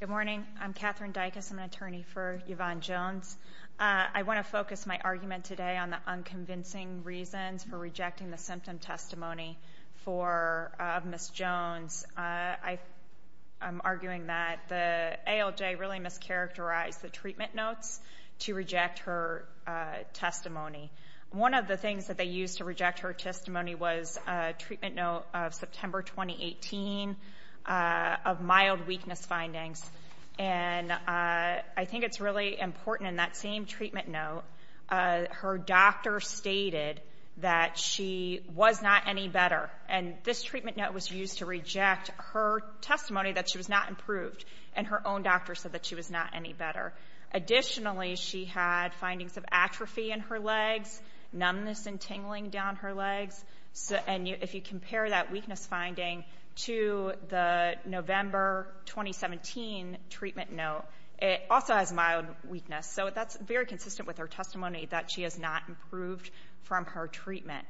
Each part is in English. Good morning. I'm Katherine Dykus. I'm an attorney for Yvonne Jones. I want to focus my argument today on the unconvincing reasons for rejecting the symptom testimony of Ms. Jones. I am arguing that the ALJ really mischaracterized the treatment notes to reject her testimony. One of the things that they used to reject her testimony was a treatment note of September 2018 of mild weakness findings and I think it's really important in that same treatment note, her doctor stated that she was not any better and this treatment note was used to reject her testimony that she was not improved and her own doctor said that she was not any better. Additionally, she had findings of atrophy in her legs, numbness and tingling down her legs and if you compare that weakness finding to the November 2017 treatment note, it also has mild weakness so that's very consistent with her testimony that she has not improved from her treatment.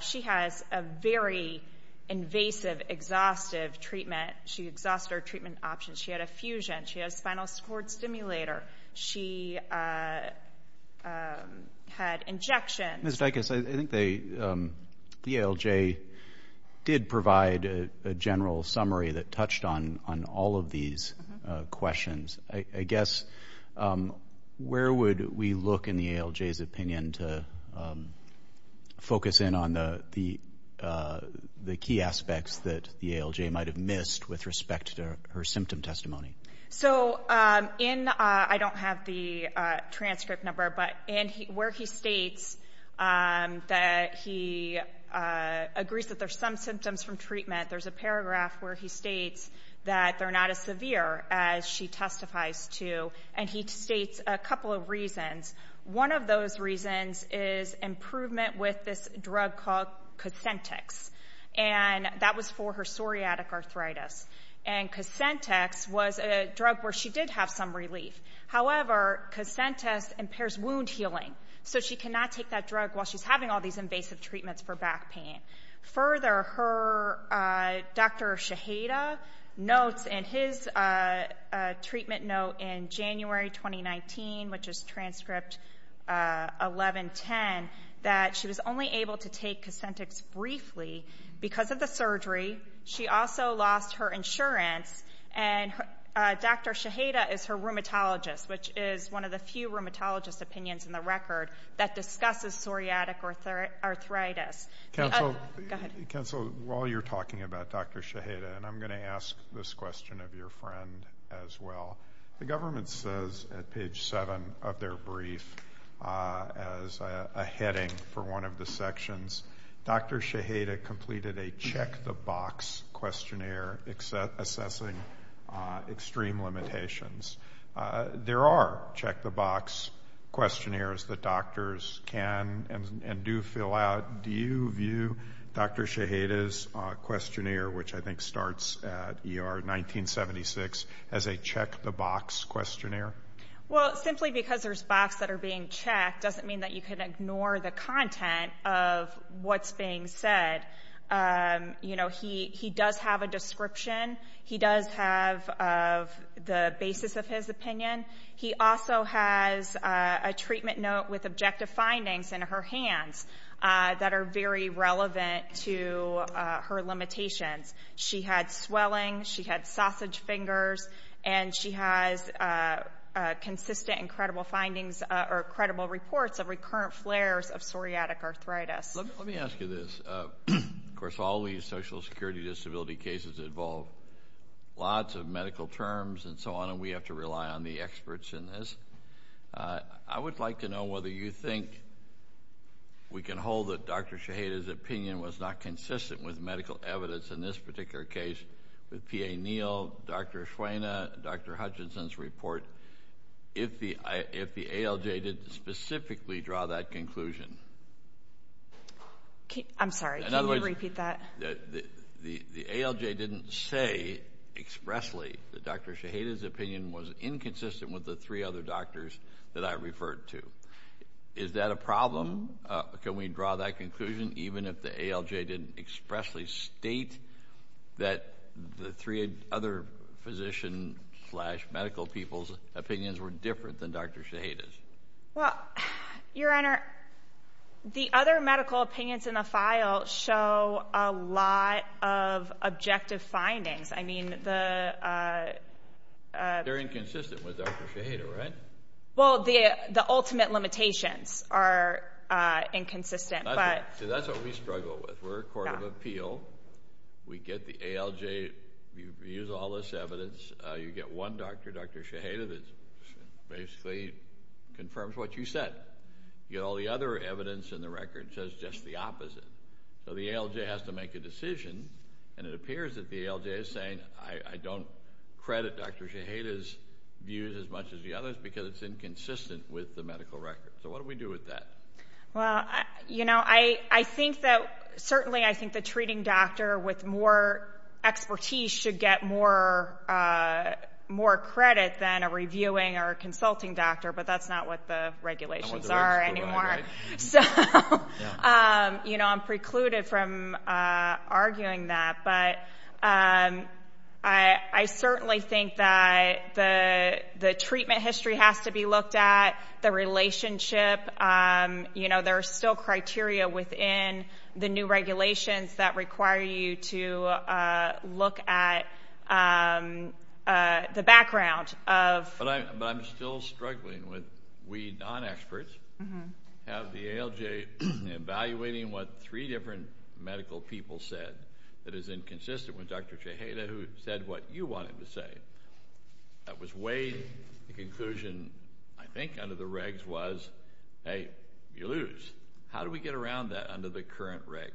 She has a very invasive exhaustive treatment. She exhausted her treatment options. She had a fusion. She had a spinal cord stimulator. She had injections. Ms. Dykus, I think the ALJ did provide a general summary that touched on on all of these questions. I guess, where would we look in the ALJ's opinion to focus in on the key aspects that the ALJ might have missed with respect to her symptom testimony? So, in, I don't have the transcript number, but where he states that he agrees that there's some symptoms from treatment, there's a paragraph where he states that they're not as severe as she testifies to and he states a couple of reasons. One of those reasons is improvement with this drug called Cosentex and that was for her psoriatic arthritis and Cosentex was a drug where she did have some relief. However, Cosentex impairs wound healing so she cannot take that drug while she's having all these invasive treatments for back pain. Further, her, Dr. Shaheda notes in his treatment note in January 2019, which is transcript 1110, that she was only able to take Cosentex briefly because of the surgery. She also lost her insurance and Dr. Shaheda is her rheumatologist, which is one of the few rheumatologist opinions in the record that discusses psoriatic arthritis. Counsel, while you're talking about Dr. Shaheda, and I'm going to ask this question of your friend as well. The government says at page 7 of their brief as a heading for one of the sections, Dr. Shaheda completed a check the box questionnaire assessing extreme limitations. There are check the box questionnaires that doctors can and do fill out. Do you view Dr. Shaheda's questionnaire, which I think starts at ER 1976, as a check the box questionnaire? Well, simply because there's box that are being checked doesn't mean that you can ignore the content of what's being said. You know, he does have a description. He does have the basis of his opinion. He also has a treatment note with objective findings in her hands that are very relevant to her limitations. She had swelling, she had sausage fingers, and she has consistent and credible findings or credible reports of recurrent flares of psoriatic arthritis. Let me ask you this. Of course, all these social security disability cases involve lots of medical terms and so on, and we have to rely on the experts in this. I would like to know whether you think we can hold that Dr. Shaheda's opinion was not consistent with medical evidence in this particular case with PA Neil, Dr. Ashwena, Dr. Hutchinson's report, if the ALJ didn't specifically draw that conclusion. I'm sorry, can you repeat that? The ALJ didn't say expressly that Dr. Shaheda's opinion was inconsistent with the three other doctors that I referred to. Is that a problem? Can we draw that conclusion even if the ALJ didn't expressly state that the three other physician slash medical people's opinions were different than Dr. Shaheda's? Well, Your Honor, the other medical opinions in the file show a lot of objective findings. I mean, they're inconsistent with Dr. Shaheda, right? Well, the ultimate limitations are inconsistent. See, that's what we struggle with. We're a court of appeal. We get the ALJ, we use all this evidence. You get one doctor, Dr. Shaheda, that basically confirms what you said. You get all the other evidence in the record that says just the opposite. So the ALJ has to make a decision, and it appears that the ALJ is saying, I don't credit Dr. Shaheda's as much as the others because it's inconsistent with the medical record. So what do we do with that? Well, you know, I think that certainly I think the treating doctor with more expertise should get more credit than a reviewing or consulting doctor, but that's not what the regulations are anymore. So, you know, I'm precluded from arguing that, but I certainly think that the treatment history has to be looked at, the relationship, you know, there are still criteria within the new regulations that require you to look at the background of... But I'm still struggling with we non-experts have the ALJ evaluating what three different medical people said that is inconsistent with Dr. Shaheda who said what you wanted to say. That was way the conclusion, I think, under the regs was, hey, you lose. How do we get around that under the current regs?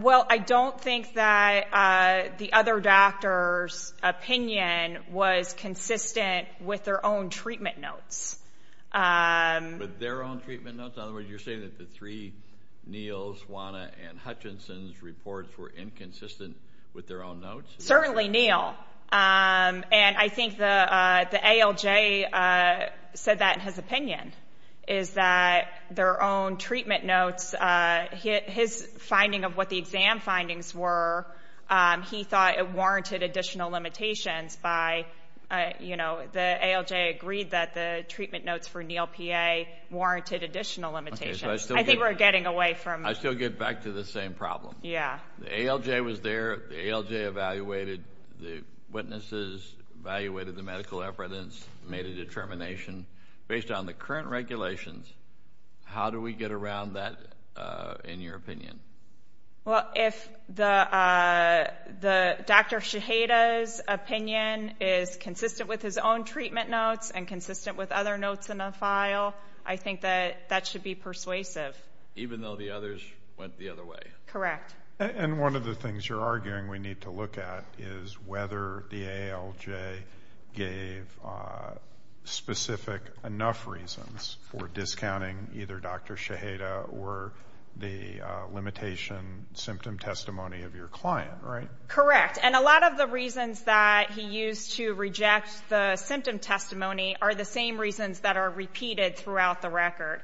Well, I don't think that the other doctor's opinion was consistent with their own treatment notes. With their own treatment notes? In other words, you're saying that the three, Neal's, Juana, and Hutchinson's reports were inconsistent with their own notes? Certainly Neal, and I think the ALJ said that in his opinion, is that their own treatment notes, his finding of what the exam findings were, he thought it warranted additional limitations by, you know, the ALJ agreed that the treatment notes for Neal PA warranted additional limitations. I think we're getting away from... I still get back to the same problem. Yeah. The ALJ was there, the ALJ evaluated the witnesses, evaluated the medical evidence, made a determination. Based on the current regulations, how do we get around that in your opinion? Well, if the Dr. Shaheda's opinion is consistent with his own treatment notes and consistent with other notes in a trial, I think that that should be persuasive. Even though the others went the other way? Correct. And one of the things you're arguing we need to look at is whether the ALJ gave specific enough reasons for discounting either Dr. Shaheda or the limitation symptom testimony of your client, right? Correct. And a lot of the reasons that he used to reject the symptom testimony are the same reasons that are repeated throughout the record.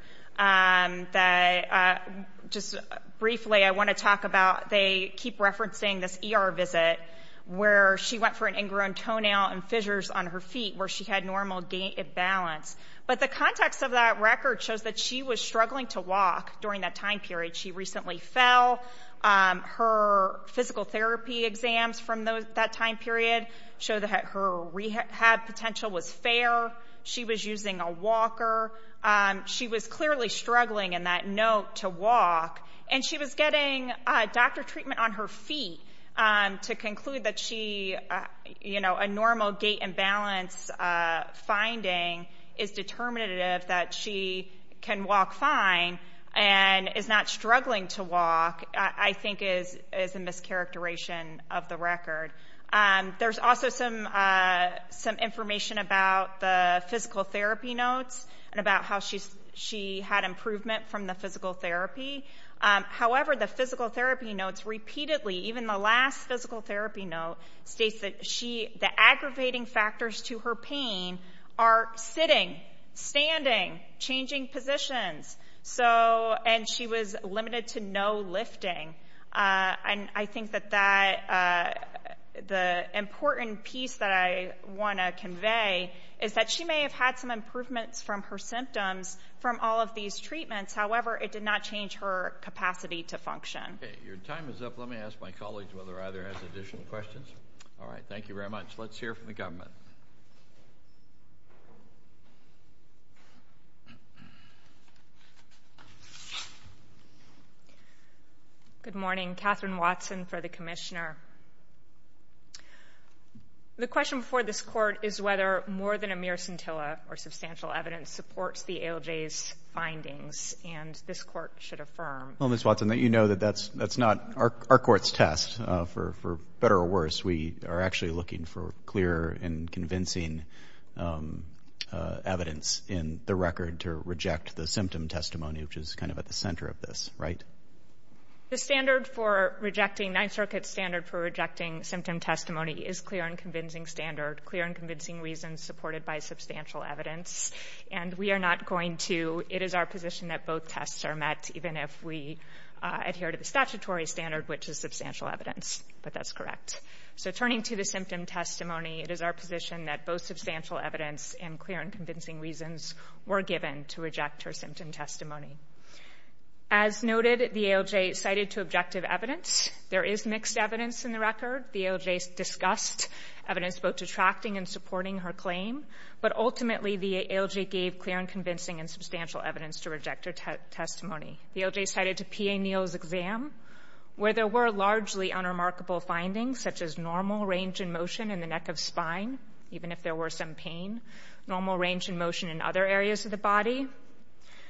Just briefly, I want to talk about, they keep referencing this ER visit where she went for an ingrown toenail and fissures on her feet where she had normal gait imbalance. But the context of that record shows that she was struggling to walk during that time period. She recently fell. Her physical therapy exams from that time period show that her rehab potential was fair. She was using a walker. She was clearly struggling in that note to walk. And she was getting doctor treatment on her feet to conclude that she, you know, a normal gait imbalance finding is determinative that she can walk fine and is not struggling to walk, I think is a mischaracterization of the record. There's also some information about the physical therapy notes and about how she had improvement from the physical therapy. However, the physical therapy notes repeatedly, even the last physical therapy note, states that the aggravating factors to her pain are sitting, standing, changing positions. And she was limited to no lifting. And I think that that the important piece that I want to convey is that she may have had some improvements from her symptoms from all of these treatments. However, it did not change her capacity to function. Your time is up. Let me ask my colleagues whether either has additional questions. All right. Thank you very much. Let's hear from the government. Good morning. Catherine Watson for the commissioner. The question for this court is whether more than a mere scintilla or substantial evidence supports the ALJ's findings. And this court should affirm. Well, Miss Watson, that you know that that's that's not our court's test for better or worse. We are actually looking for clear and convincing evidence in the record to reject the symptom testimony, which is kind of at the center of this, right? The standard for rejecting Ninth Circuit's standard for rejecting symptom testimony is clear and convincing standard, clear and convincing reasons supported by substantial evidence. And we are not going to. It is our position that both tests are met, even if we adhere to the statutory standard, which is substantial evidence. But that's correct. So turning to the symptom testimony, it is our position that both substantial evidence and clear and convincing reasons were given to reject her symptom testimony. As noted, the ALJ cited to objective evidence. There is mixed evidence in the record. The ALJ discussed evidence both detracting and supporting her claim. But ultimately, the ALJ gave clear and convincing and substantial evidence to reject her testimony. The ALJ cited to P.A. Neal's exam, where there were largely unremarkable findings, such as normal range in motion in the neck of spine, even if there were some pain, normal range in motion in other areas of the body,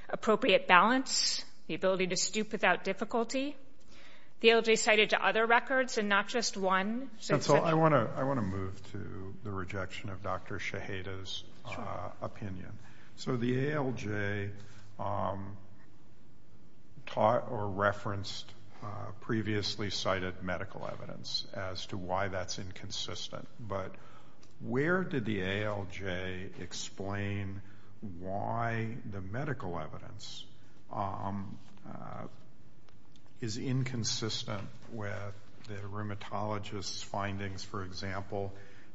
appropriate balance, the ability to stoop without difficulty. The ALJ cited to other records and not just one. So I want to I want to move to the rejection of Dr. Shaheda's opinion. So the ALJ taught or referenced previously cited medical evidence as to why that's inconsistent. But where did the ALJ explain why the medical evidence is inconsistent with the rheumatologist's findings, for example,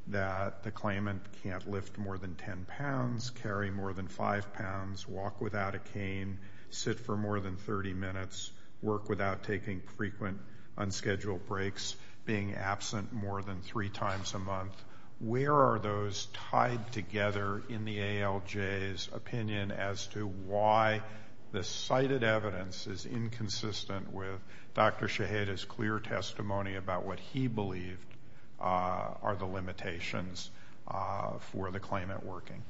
that the claimant can't lift more than 10 pounds, carry more than 5 pounds, walk without a cane, sit for more than 30 minutes, work without taking frequent unscheduled breaks, being absent more than three times a month? Where are those tied together in the ALJ's opinion as to why the cited evidence is inconsistent with Dr. Shaheda's clear testimony about what he believed are the limitations for the claimant working?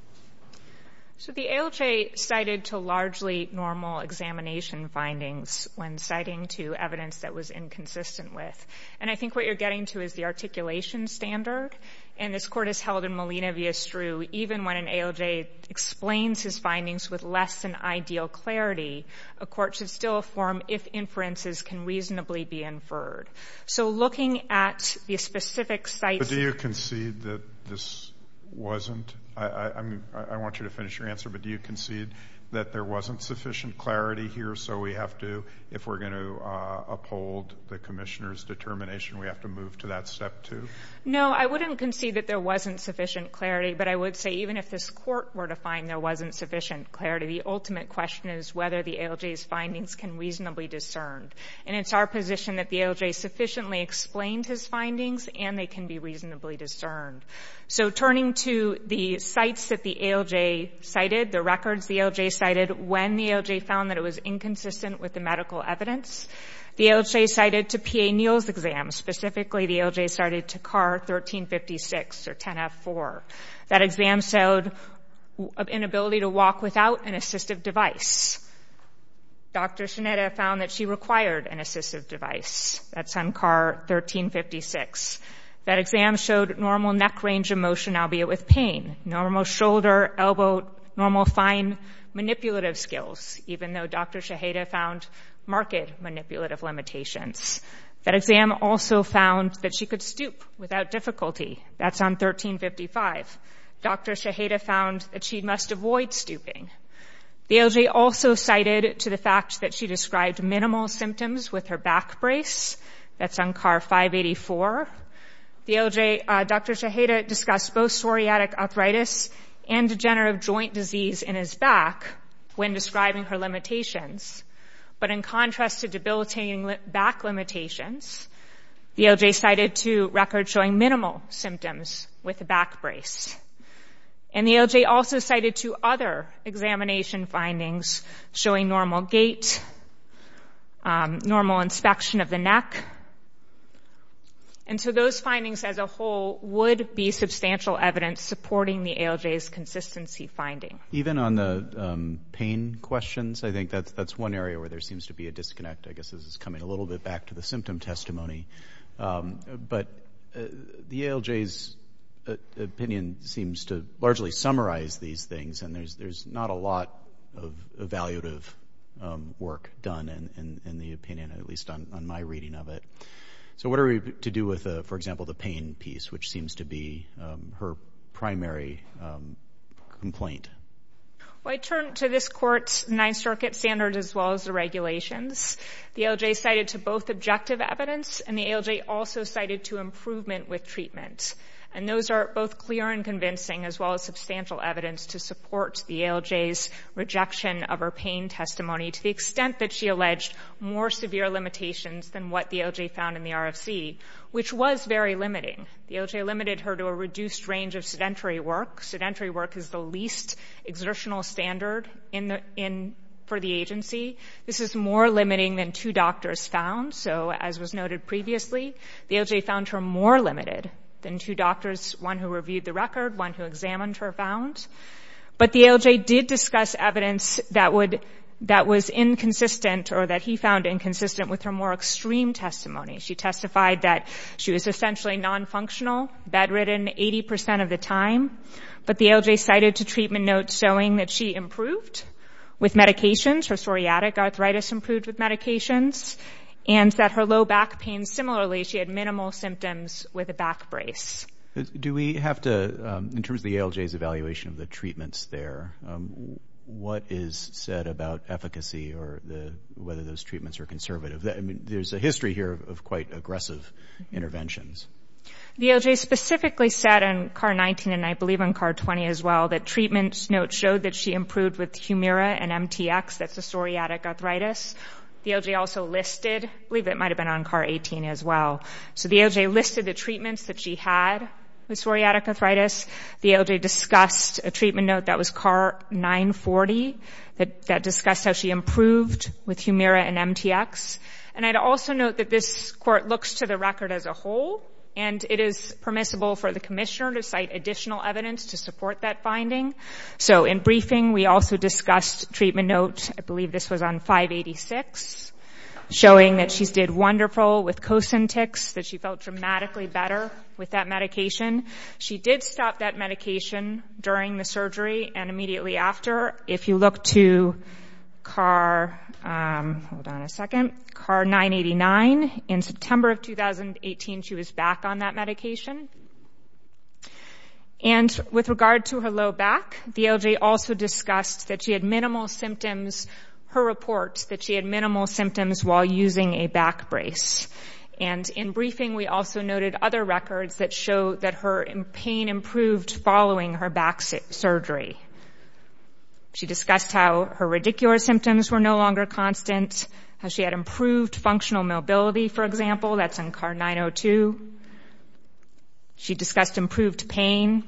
So the ALJ cited to largely normal examination findings when citing to evidence that was inconsistent with. And I think what you're getting to is the articulation standard. And this court has held in Molina v. Estru, even when an ALJ explains his findings with less than ideal clarity, a court should still affirm if inferences can reasonably be inferred. So looking at the specific sites... But do you concede that this wasn't? I want you to finish your answer. But do you concede that there wasn't sufficient clarity here? So we have to, if we're going to uphold the commissioner's determination, we have to move to that step two? No, I wouldn't concede that there wasn't sufficient clarity. But I would say even if this court were to find there wasn't sufficient clarity, the ultimate question is whether the ALJ's findings can reasonably discern. And it's our position that the ALJ sufficiently explained his findings and they can be reasonably discerned. So turning to the sites that the ALJ cited, the records the ALJ cited when the ALJ found that it was inconsistent with the medical evidence. The ALJ cited to PA Neal's exam, specifically the ALJ cited to CAR 1356 or 10F4. That exam showed an inability to walk without an assistive device. Dr. Shineda found that she required an assistive device. That's on CAR 1356. That exam showed normal neck range of motion, albeit with pain. Normal shoulder, elbow, normal fine manipulative skills, even though Dr. Shineda found marked manipulative limitations. That exam also found that she could stoop without difficulty. That's on 1355. Dr. Shineda found that she must avoid stooping. The ALJ also cited to the fact that she described minimal symptoms with her back brace. That's on CAR 584. The ALJ, Dr. Shineda discussed both psoriatic arthritis and degenerative joint disease in his back when describing her limitations. But in contrast to debilitating back limitations, the ALJ cited to records showing minimal symptoms with the back brace. And the ALJ also cited to other examination findings showing normal gait, normal inspection of the neck. And so those findings as a whole would be substantial evidence supporting the ALJ's consistency finding. Even on the pain questions, I think that's one area where there seems to be a disconnect. I guess this is coming a little bit back to the symptom testimony. But the ALJ's opinion seems to largely summarize these things. And there's not a lot of evaluative work done in the opinion, at least on my reading of it. So what are we to do with, for example, the pain piece, which seems to be her primary complaint? Well, I turn to this court's Ninth Circuit standards as well as the regulations. The ALJ cited to both objective evidence and the ALJ also cited to improvement with treatment. And those are both clear and convincing as well as substantial evidence to support the ALJ's rejection of her pain testimony, to the extent that she alleged more severe limitations than what the ALJ found in the RFC, which was very limiting. The ALJ limited her to a reduced range of sedentary work. Sedentary work is the least exertional standard for the agency. This is more limiting than two doctors found. So as was noted previously, the ALJ found her more limited than two doctors, one who reviewed the record, one who examined her, found. But the ALJ did discuss evidence that was inconsistent or that he found inconsistent with her more extreme testimony. She testified that she was essentially non-functional, bedridden 80% of the time. But the ALJ cited to treatment notes showing that she improved with medications, her psoriatic arthritis improved with medications, and that her low back pain, similarly, she had minimal symptoms with a back brace. Do we have to, in terms of the ALJ's evaluation of the treatments there, what is said about efficacy or whether those treatments are conservative? I mean, there's a history here of quite aggressive interventions. The ALJ specifically said in CAR-19, and I believe on CAR-20 as well, that treatments notes showed that she improved with Humira and MTX, that's the psoriatic arthritis. The ALJ also listed, I believe it might have been on CAR-18 as well. So the ALJ listed the treatments that she had with psoriatic arthritis. The ALJ discussed a treatment note that was CAR-940 that discussed how she improved with Humira and MTX. And I'd also note that this court looks to the record as a whole, and it is permissible for the commissioner to cite additional evidence to support that finding. So in briefing, we also discussed treatment notes, I believe this was on 586, showing that she did wonderful with Cosintix, that she felt dramatically better with that medication. She did stop that medication during the surgery, and immediately after. If you look to CAR, hold on a second, CAR-989, in September of 2018, she was back on that medication. And with regard to her low back, the ALJ also discussed that she had minimal symptoms, her report, that she had minimal symptoms while using a back brace. And in briefing, we also noted other records that show that her pain improved following her back surgery. She discussed how her radicular symptoms were no longer constant, how she had improved functional mobility, for example, that's on CAR-902. She discussed improved pain,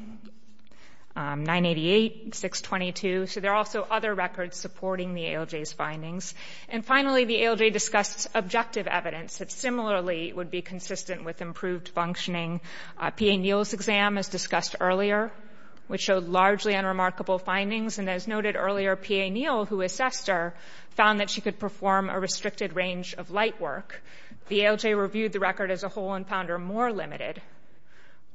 988, 622. So there are also other records supporting the ALJ's findings. And finally, the ALJ discussed objective evidence that similarly would be consistent with improved functioning. PA Neal's exam, as discussed earlier, which showed largely unremarkable findings, and as noted earlier, PA Neal, who assessed her, found that she could perform a restricted range of light work. The ALJ reviewed the record as a whole and found her more limited.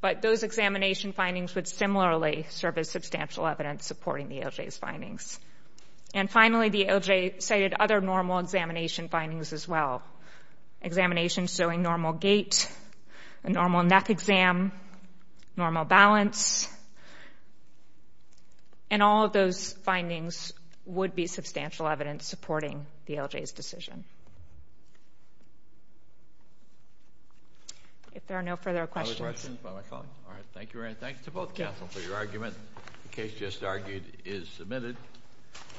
But those examination findings would similarly serve as substantial evidence supporting the ALJ's findings. And finally, the ALJ cited other normal examination findings as well. Examination showing normal gait, a normal neck exam, normal balance. And all of those findings would be substantial evidence supporting the ALJ's decision. If there are no further questions. All right. Thank you very much. Thank you to both counsel for your argument. The case just argued is submitted.